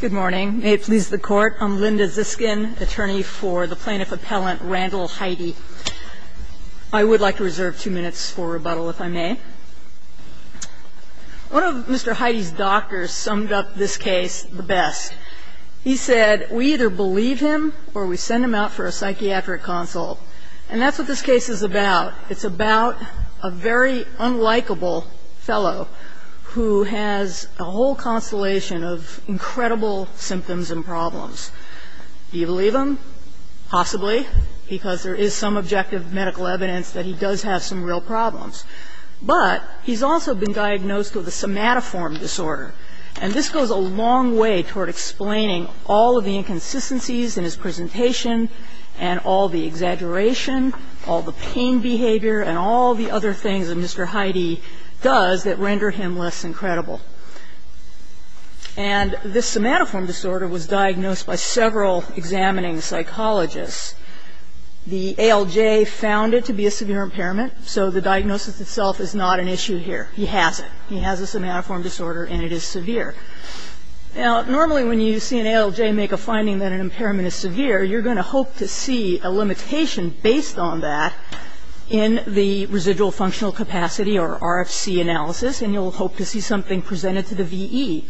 Good morning. May it please the Court, I'm Linda Ziskin, attorney for the plaintiff-appellant Randall Heide. I would like to reserve two minutes for rebuttal, if I may. One of Mr. Heide's doctors summed up this case the best. He said, we either believe him or we send him out for a psychiatric consult. And that's what this case is about. It's about a very unlikable fellow who has a whole constellation of incredible symptoms and problems. Do you believe him? Possibly, because there is some objective medical evidence that he does have some real problems. But he's also been diagnosed with a somatoform disorder. And this goes a long way toward explaining all of the inconsistencies in his presentation and all the exaggeration, all the pain behavior and all the other things that Mr. Heide does that render him less incredible. And this somatoform disorder was diagnosed by several examining psychologists. The ALJ found it to be a severe impairment, so the diagnosis itself is not an issue here. He has it. He has a somatoform disorder and it is severe. Now, normally when you see an ALJ make a finding that an impairment is severe, you're going to hope to see a limitation based on that in the residual functional capacity or RFC analysis, and you'll hope to see something presented to the VE.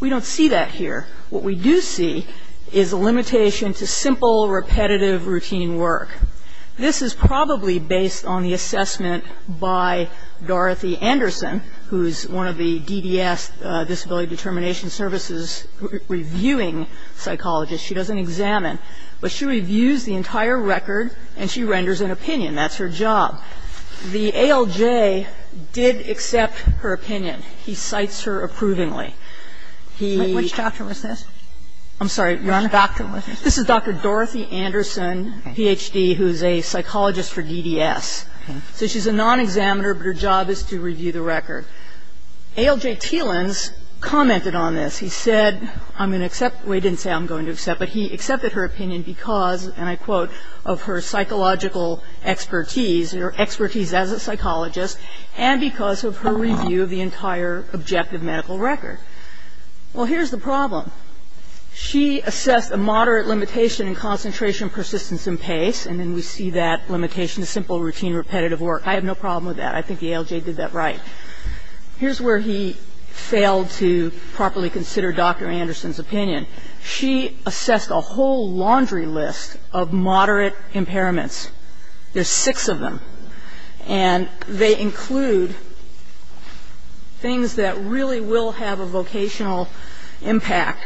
We don't see that here. What we do see is a limitation to simple, repetitive, routine work. This is probably based on the assessment by Dorothy Anderson, who is one of the DDS, Disability Determination Services, reviewing psychologists. She doesn't examine, but she reviews the entire record and she renders an opinion. That's her job. The ALJ did accept her opinion. He cites her approvingly. He ---- Which doctor was this? I'm sorry, Your Honor. Which doctor was this? This is Dr. Dorothy Anderson, Ph.D., who is a psychologist for DDS. So she's a non-examiner, but her job is to review the record. ALJ Teelins commented on this. He said, I'm going to accept ---- well, he didn't say I'm going to accept, but he accepted her opinion because, and I quote, of her psychological expertise or expertise as a psychologist and because of her review of the entire objective medical record. Well, here's the problem. She assessed a moderate limitation in concentration, persistence and pace. And then we see that limitation to simple routine repetitive work. I have no problem with that. I think the ALJ did that right. Here's where he failed to properly consider Dr. Anderson's opinion. She assessed a whole laundry list of moderate impairments. There's six of them. And they include things that really will have a vocational impact.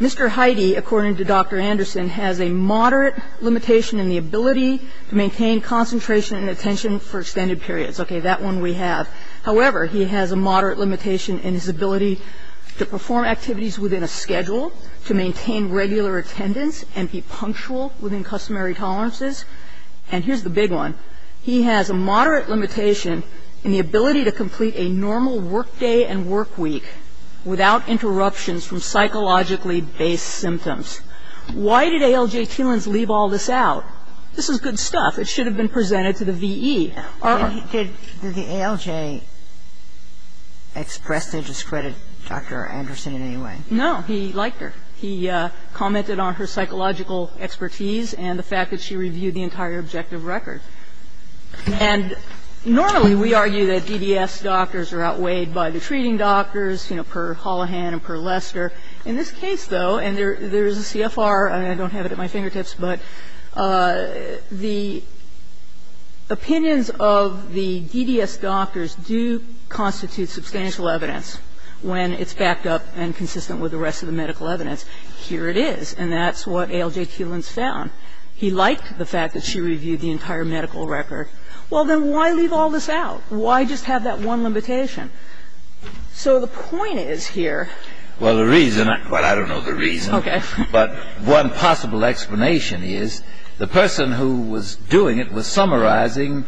Mr. Heide, according to Dr. Anderson, has a moderate limitation in the ability to maintain concentration and attention for extended periods. Okay. That one we have. However, he has a moderate limitation in his ability to perform activities within a schedule, to maintain regular attendance and be punctual within customary tolerances. And here's the big one. He has a moderate limitation in the ability to complete a normal workday and workweek without interruptions from psychologically based symptoms. Why did ALJ Tielens leave all this out? This is good stuff. It should have been presented to the V.E. Did the ALJ express their discredit to Dr. Anderson in any way? He liked her. He commented on her psychological expertise and the fact that she reviewed the entire objective record. And normally we argue that DDS doctors are outweighed by the treating doctors, you know, per Hollihan and per Lester. In this case, though, and there is a CFR, and I don't have it at my fingertips, but the opinions of the DDS doctors do constitute substantial evidence when it's backed up and consistent with the rest of the medical evidence. Here it is. And that's what ALJ Tielens found. He liked the fact that she reviewed the entire medical record. Well, then why leave all this out? Why just have that one limitation? So the point is here. Well, the reason I don't know the reason. Okay. But one possible explanation is the person who was doing it was summarizing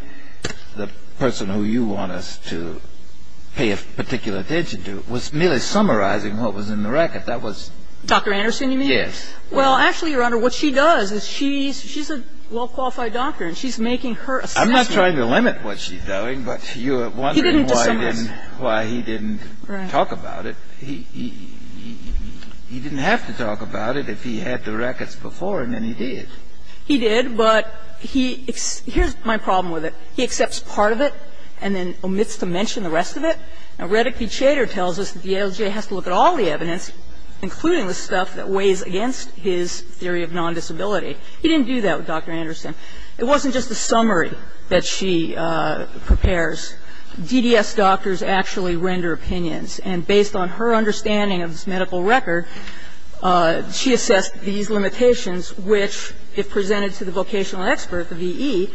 Dr. Anderson, you mean? Yes. Well, actually, Your Honor, what she does is she's a well-qualified doctor, and she's making her assessment. I'm not trying to limit what she's doing, but you're wondering why he didn't talk about it. He didn't have to talk about it if he had the records before, and then he did. He did, but here's my problem with it. He accepts part of it and then omits to mention the rest of it. Now, Reddick P. Chater tells us that the ALJ has to look at all the evidence, including the stuff that weighs against his theory of non-disability. He didn't do that with Dr. Anderson. It wasn't just a summary that she prepares. DDS doctors actually render opinions. And based on her understanding of this medical record, she assessed these limitations, which, if presented to the vocational expert, the V.E.,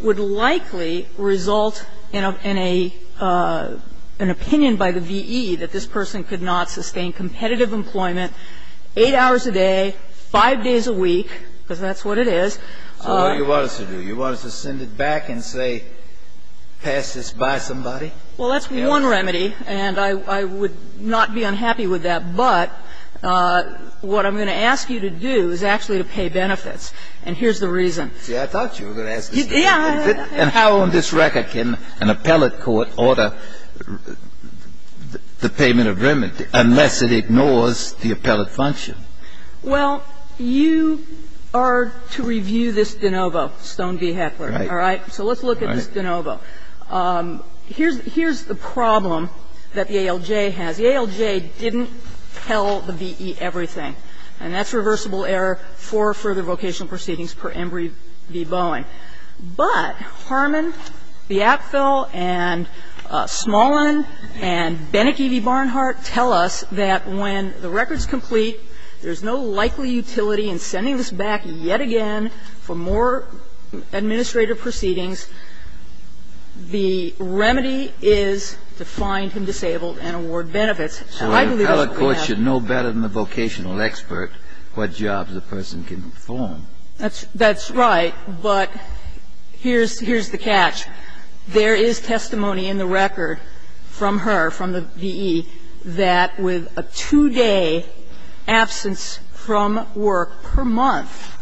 would likely result in an opinion by the V.E. that this person could not sustain competitive employment 8 hours a day, 5 days a week, because that's what it is. So what do you want us to do? You want us to send it back and say pass this by somebody? Well, that's one remedy, and I would not be unhappy with that. But what I'm going to ask you to do is actually to pay benefits. And here's the reason. See, I thought you were going to ask this. Yeah. And how on this record can an appellate court order the payment of remedy unless it ignores the appellate function? Well, you are to review this de novo, Stone v. Heckler. Right. All right? So let's look at this de novo. Here's the problem that the ALJ has. The ALJ didn't tell the V.E. everything. And that's reversible error for further vocational proceedings per Embry v. Bowen. But Harmon, Biafel, and Smolin, and Beneke v. Barnhart tell us that when the record is complete, there's no likely utility in sending this back yet again for more administrative proceedings. The remedy is to find him disabled and award benefits. So I believe that's what we have. Well, an appellate court should know better than the vocational expert what jobs a person can perform. That's right. But here's the catch. There is testimony in the record from her, from the V.E., that with a two-day absence from work per month,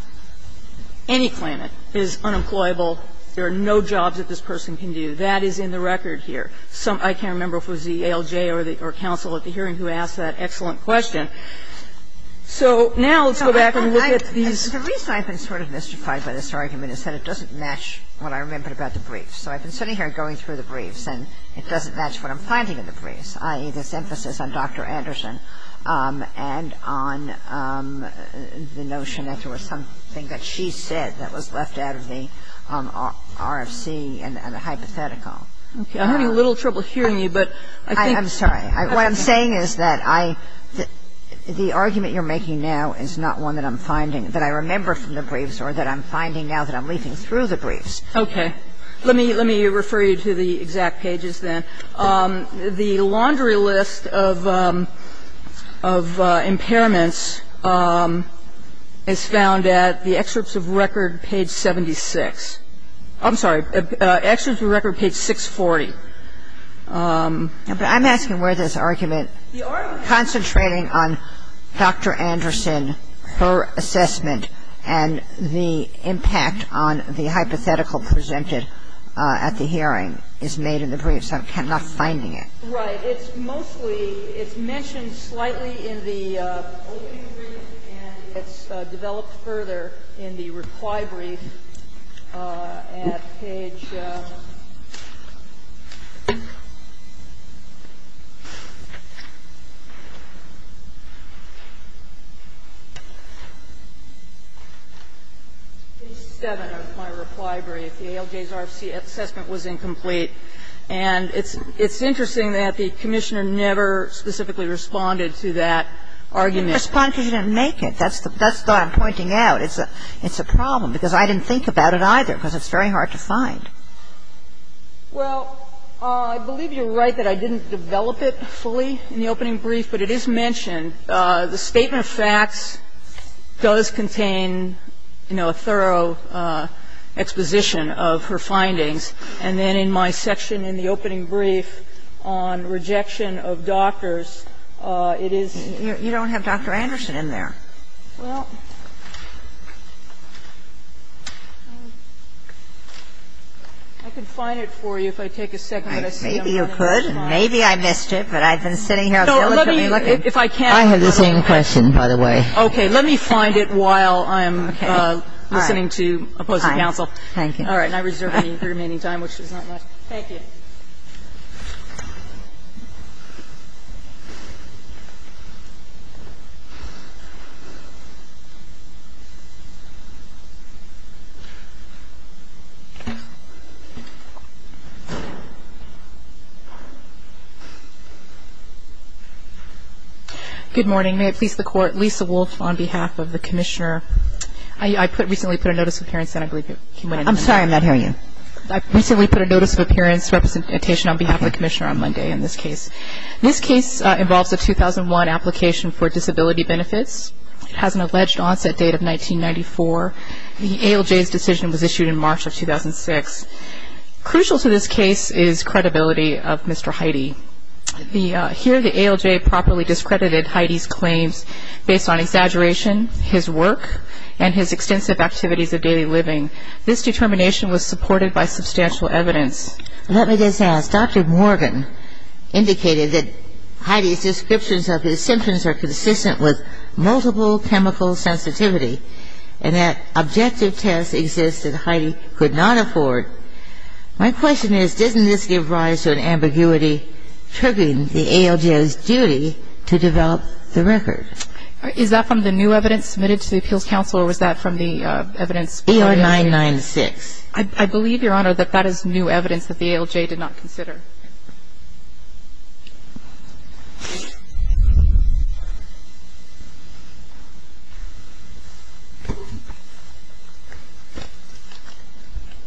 any claimant is unemployable. There are no jobs that this person can do. That is in the record here. I can't remember if it was the ALJ or the counsel at the hearing who asked that excellent question. So now let's go back and look at these. The reason I've been sort of mystified by this argument is that it doesn't match what I remember about the briefs. So I've been sitting here going through the briefs, and it doesn't match what I'm And on the notion that there was something that she said that was left out of the RFC and the hypothetical. Okay. I'm having a little trouble hearing you, but I think the argument you're making now is not one that I'm finding, that I remember from the briefs or that I'm finding now that I'm leafing through the briefs. Okay. Let me refer you to the exact pages then. The laundry list of impairments is found at the excerpts of record page 76. I'm sorry, excerpts of record page 640. But I'm asking where this argument. The argument concentrating on Dr. Anderson, her assessment, and the impact on the hypothetical presented at the hearing is made in the briefs. I'm not finding it. Right. It's mostly, it's mentioned slightly in the opening brief, and it's developed further in the reply brief at page 7 of my reply brief. The ALJ's RFC assessment was incomplete. And it's interesting that the Commissioner never specifically responded to that argument. You didn't respond because you didn't make it. That's the thought I'm pointing out. It's a problem, because I didn't think about it either, because it's very hard to find. Well, I believe you're right that I didn't develop it fully in the opening brief, but it is mentioned. The statement of facts does contain, you know, a thorough exposition of her findings. And then in my section in the opening brief on rejection of doctors, it is you don't have Dr. Anderson in there. Well, I can find it for you if I take a second. Maybe you could. Maybe I missed it, but I've been sitting here diligently looking. If I can. I have the same question, by the way. Okay. Let me find it while I'm listening to opposing counsel. All right. And I reserve the remaining time, which is not much. Thank you. Good morning. May it please the Court. Lisa Wolfe on behalf of the Commissioner. I recently put a notice of appearance, and I believe you went into it. I'm sorry, I'm not hearing you. I recently put a notice of appearance representation on behalf of the Commissioner on Monday in this case. This case involves a 2001 application for disability benefits. It has an alleged onset date of 1994. The ALJ's decision was issued in March of 2006. Crucial to this case is credibility of Mr. Heide. Here the ALJ properly discredited Heide's claims based on exaggeration, his work, and his extensive activities of daily living. This determination was supported by substantial evidence. Let me just ask. Dr. Morgan indicated that Heide's descriptions of his symptoms are consistent with multiple chemical sensitivity and that objective tests exist that Heide could not afford. My question is, doesn't this give rise to an ambiguity triggering the ALJ's duty to develop the record? Is that from the new evidence submitted to the Appeals Council, or was that from the evidence? AL996. I believe, Your Honor, that that is new evidence that the ALJ did not consider. Thank you, Your Honor.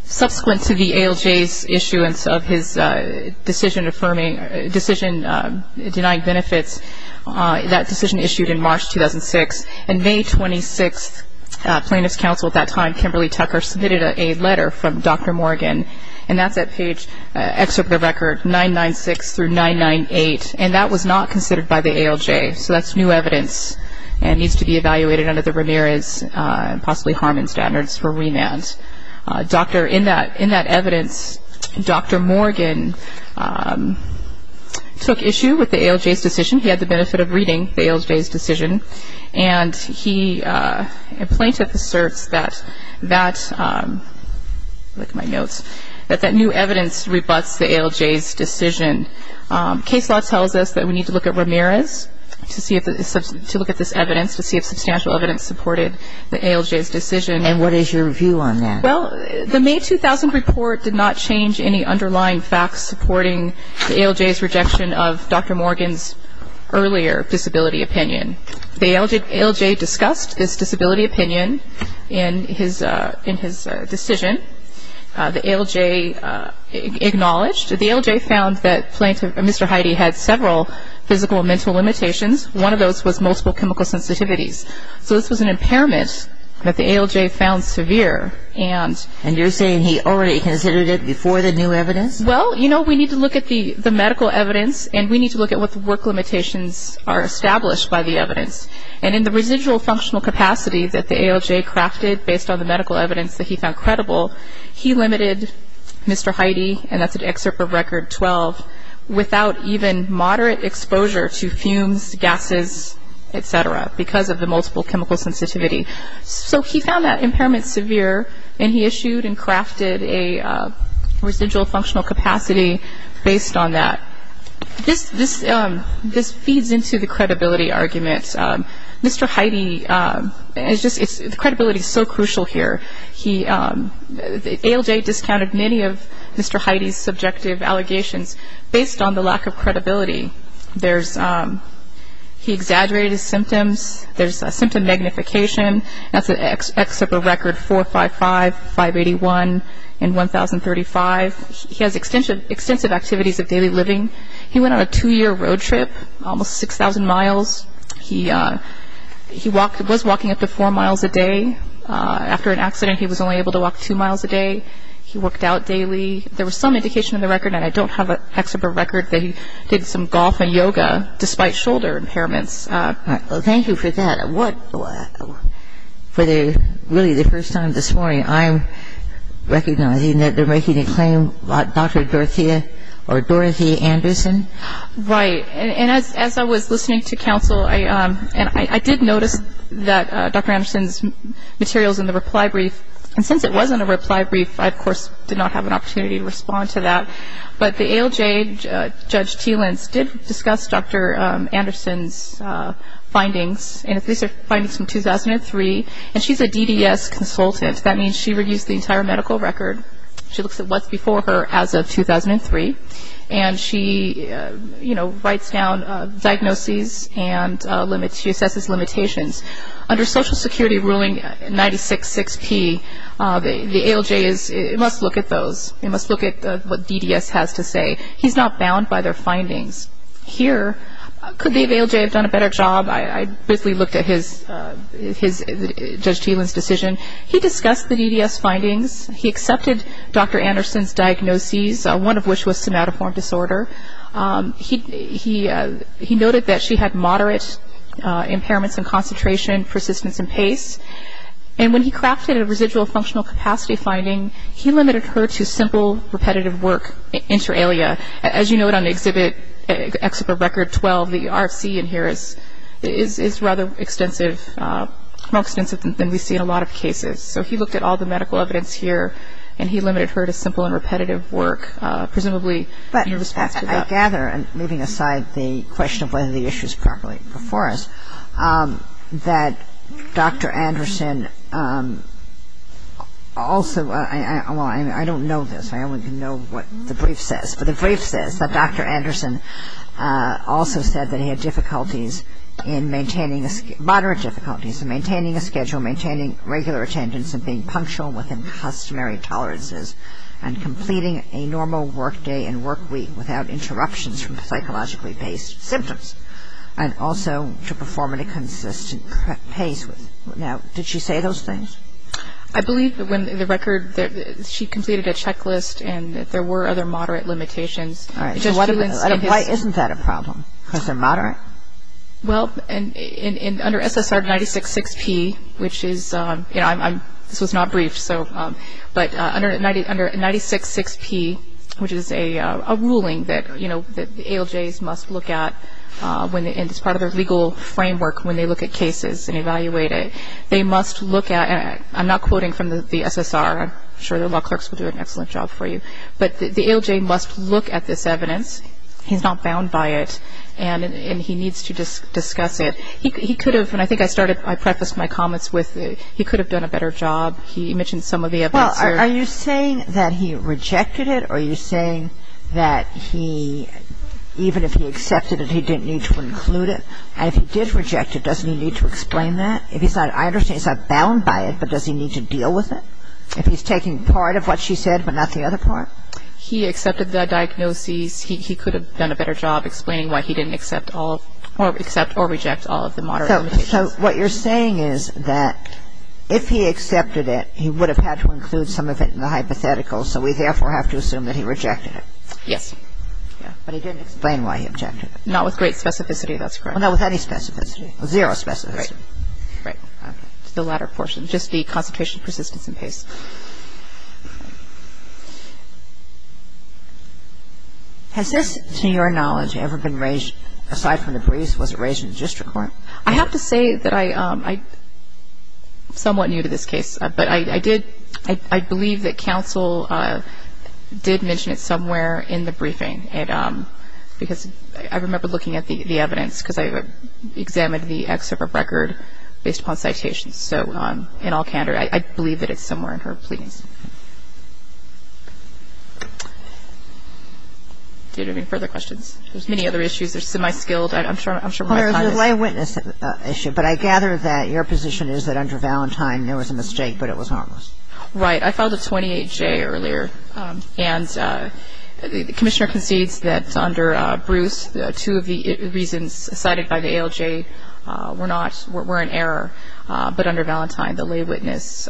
Subsequent to the ALJ's issuance of his decision denying benefits, that decision issued in March 2006. On May 26th, Plaintiff's Counsel at that time, Kimberly Tucker, submitted a letter from Dr. Morgan, and that's at page, excerpt of the record, 996 through 998, and that was not considered by the ALJ. So that's new evidence and needs to be evaluated under the Ramirez, possibly Harmon, standards for remand. In that evidence, Dr. Morgan took issue with the ALJ's decision. He had the benefit of reading the ALJ's decision, and he, and Plaintiff asserts that that, look at my notes, that that new evidence rebuts the ALJ's decision. Case law tells us that we need to look at Ramirez to see if, to look at this evidence, to see if substantial evidence supported the ALJ's decision. And what is your view on that? Well, the May 2000 report did not change any underlying facts supporting the ALJ's rejection of Dr. Morgan's earlier disability opinion. The ALJ discussed this disability opinion in his decision. The ALJ acknowledged. The ALJ found that Mr. Heide had several physical and mental limitations. One of those was multiple chemical sensitivities. So this was an impairment that the ALJ found severe. And you're saying he already considered it before the new evidence? Well, you know, we need to look at the medical evidence, and we need to look at what the work limitations are established by the evidence. And in the residual functional capacity that the ALJ crafted based on the medical evidence that he found credible, he limited Mr. Heide, and that's an excerpt from Record 12, without even moderate exposure to fumes, gases, et cetera, because of the multiple chemical sensitivity. So he found that impairment severe, and he issued and crafted a residual functional capacity based on that. This feeds into the credibility argument. Mr. Heide, the credibility is so crucial here. The ALJ discounted many of Mr. Heide's subjective allegations based on the lack of credibility. He exaggerated his symptoms. There's symptom magnification. That's an excerpt from Record 455, 581, and 1035. He has extensive activities of daily living. He went on a two-year road trip, almost 6,000 miles. He was walking up to four miles a day. After an accident, he was only able to walk two miles a day. He worked out daily. And this is the result of the report. I'm not sure if you can see, but there was some indication in the record, and I don't have an excerpt from Record, that he did some golf and yoga despite shoulder impairments. Thank you for that. For really the first time this morning, I'm recognizing that they're making a claim about Dr. Dorothea, or Dorothea Anderson. Right. And as I was listening to counsel, and I did notice that Dr. Anderson's materials in the reply brief, and since it wasn't a reply brief, I, of course, did not have an opportunity to respond to that. But the ALJ, Judge Teelins, did discuss Dr. Anderson's findings, and these are findings from 2003, and she's a DDS consultant. That means she reviews the entire medical record. She looks at what's before her as of 2003. And she, you know, writes down diagnoses and limits. She assesses limitations. Under Social Security Ruling 96-6P, the ALJ must look at those. They must look at what DDS has to say. He's not bound by their findings. Here, could the ALJ have done a better job? I briefly looked at Judge Teelins' decision. He discussed the DDS findings. He accepted Dr. Anderson's diagnoses, one of which was somatoform disorder. He noted that she had moderate impairments in concentration, persistence, and pace. And when he crafted a residual functional capacity finding, he limited her to simple repetitive work inter alia. As you note on the exhibit, Exhibit Record 12, the RFC in here is rather extensive, more extensive than we see in a lot of cases. So he looked at all the medical evidence here, and he limited her to simple and repetitive work, presumably in response to that. But I gather, moving aside the question of whether the issue is properly before us, that Dr. Anderson also, well, I don't know this. I only know what the brief says. But the brief says that Dr. Anderson also said that he had difficulties in maintaining, moderate difficulties in maintaining a schedule, maintaining regular attendance, and being punctual within customary tolerances, and completing a normal work day and work week without interruptions from psychologically based symptoms, and also to perform at a consistent pace. Now, did she say those things? I believe when the record, she completed a checklist, and there were other moderate limitations. Why isn't that a problem? Because they're moderate? Well, under SSR 966P, which is, you know, this was not briefed, but under 966P, which is a ruling that, you know, that the ALJs must look at, and it's part of their legal framework when they look at cases and evaluate it. They must look at, and I'm not quoting from the SSR. I'm sure the law clerks will do an excellent job for you. But the ALJ must look at this evidence. He's not bound by it, and he needs to discuss it. He could have, and I think I started, I prefaced my comments with, he could have done a better job. He mentioned some of the evidence there. Well, are you saying that he rejected it, or are you saying that he, even if he accepted it, he didn't need to include it? And if he did reject it, doesn't he need to explain that? If he's not, I understand he's not bound by it, but does he need to deal with it? If he's taking part of what she said, but not the other part? He accepted the diagnoses. He could have done a better job explaining why he didn't accept all, or accept or reject all of the modern limitations. So what you're saying is that if he accepted it, he would have had to include some of it in the hypothetical, so we therefore have to assume that he rejected it. Yes. But he didn't explain why he rejected it. Not with great specificity, that's correct. Well, not with any specificity. Zero specificity. Right. The latter portion, just the concentration, persistence, and pace. Has this, to your knowledge, ever been raised, aside from the briefs, was it raised in the district court? I have to say that I'm somewhat new to this case, but I believe that counsel did mention it somewhere in the briefing, because I remember looking at the evidence, because I examined the excerpt of record based upon citations. So in all candor, I believe that it's somewhere in her briefings. Do you have any further questions? There's many other issues. There's semi-skilled. I'm sure my time is up. There's a lay witness issue, but I gather that your position is that under Valentine there was a mistake, but it was harmless. Right. I filed a 28-J earlier, and the commissioner concedes that under Bruce, two of the reasons cited by the ALJ were an error, but under Valentine the lay witness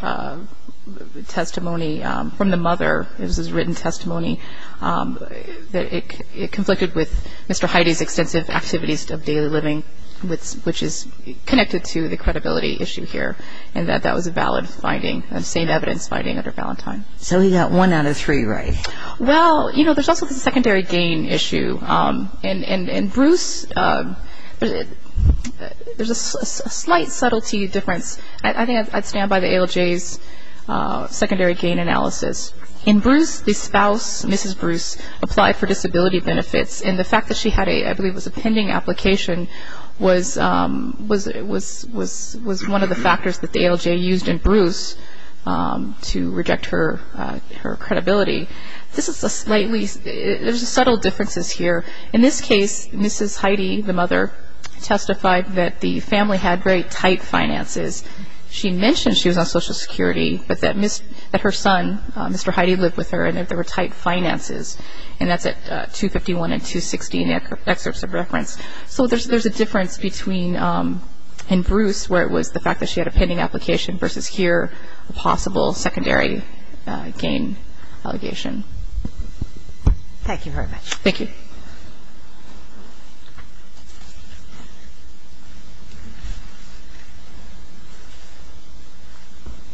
testimony from the mother, it was his written testimony, that it conflicted with Mr. Heide's extensive activities of daily living, which is connected to the credibility issue here, and that that was a valid finding, the same evidence finding under Valentine. So he got one out of three right. Well, you know, there's also the secondary gain issue, and Bruce, there's a slight subtlety difference. I think I'd stand by the ALJ's secondary gain analysis. In Bruce, the spouse, Mrs. Bruce, applied for disability benefits, and the fact that she had a, I believe it was a pending application, was one of the factors that the ALJ used in Bruce to reject her credibility. This is a slightly, there's subtle differences here. In this case, Mrs. Heide, the mother, testified that the family had very tight finances. She mentioned she was on Social Security, but that her son, Mr. Heide, lived with her and that there were tight finances, and that's at 251 and 260 in the excerpts of reference. So there's a difference between, in Bruce, where it was the fact that she had a pending application versus here, a possible secondary gain allegation. Thank you very much. Thank you.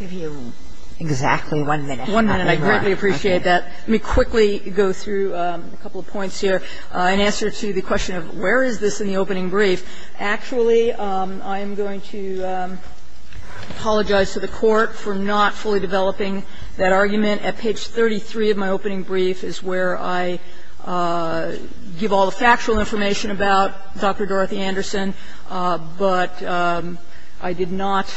I'll give you exactly one minute. One minute. I greatly appreciate that. Let me quickly go through a couple of points here. In answer to the question of where is this in the opening brief, actually, I'm going to apologize to the Court for not fully developing that argument. At page 33 of my opening brief is where I give all the factual information about Dr. Dorothy Anderson, but I did not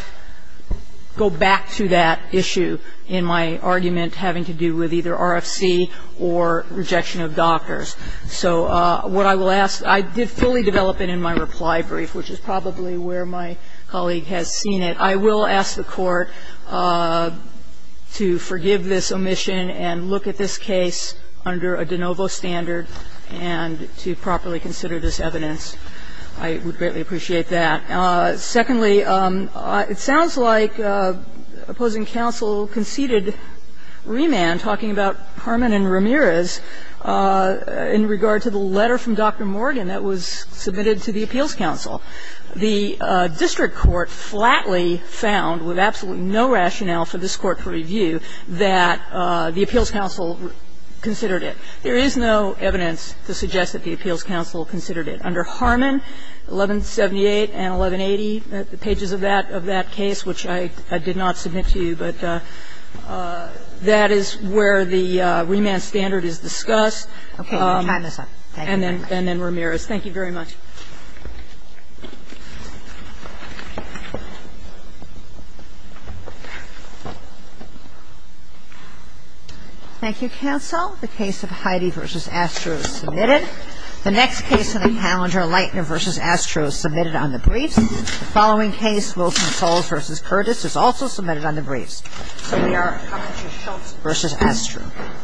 go back to that issue in my argument having to do with either RFC or rejection of doctors. So what I will ask, I did fully develop it in my reply brief, which is probably where my colleague has seen it. I will ask the Court to forgive this omission and look at this case under a de novo standard and to properly consider this evidence. I would greatly appreciate that. Secondly, it sounds like opposing counsel conceded remand, talking about Harmon and Ramirez, in regard to the letter from Dr. Morgan that was submitted to the appeals counsel. The district court flatly found, with absolutely no rationale for this Court to review, that the appeals counsel considered it. There is no evidence to suggest that the appeals counsel considered it. Under Harmon, 1178 and 1180, the pages of that case, which I did not submit to you, but that is where the remand standard is discussed. And then Ramirez. Thank you very much. Thank you, counsel. The case of Heidi v. Astro is submitted. The next case in the calendar, Lightner v. Astro, is submitted on the briefs. The following case, Wilson-Soles v. Curtis, is also submitted on the briefs. So we are coming to Schultz v. Astro.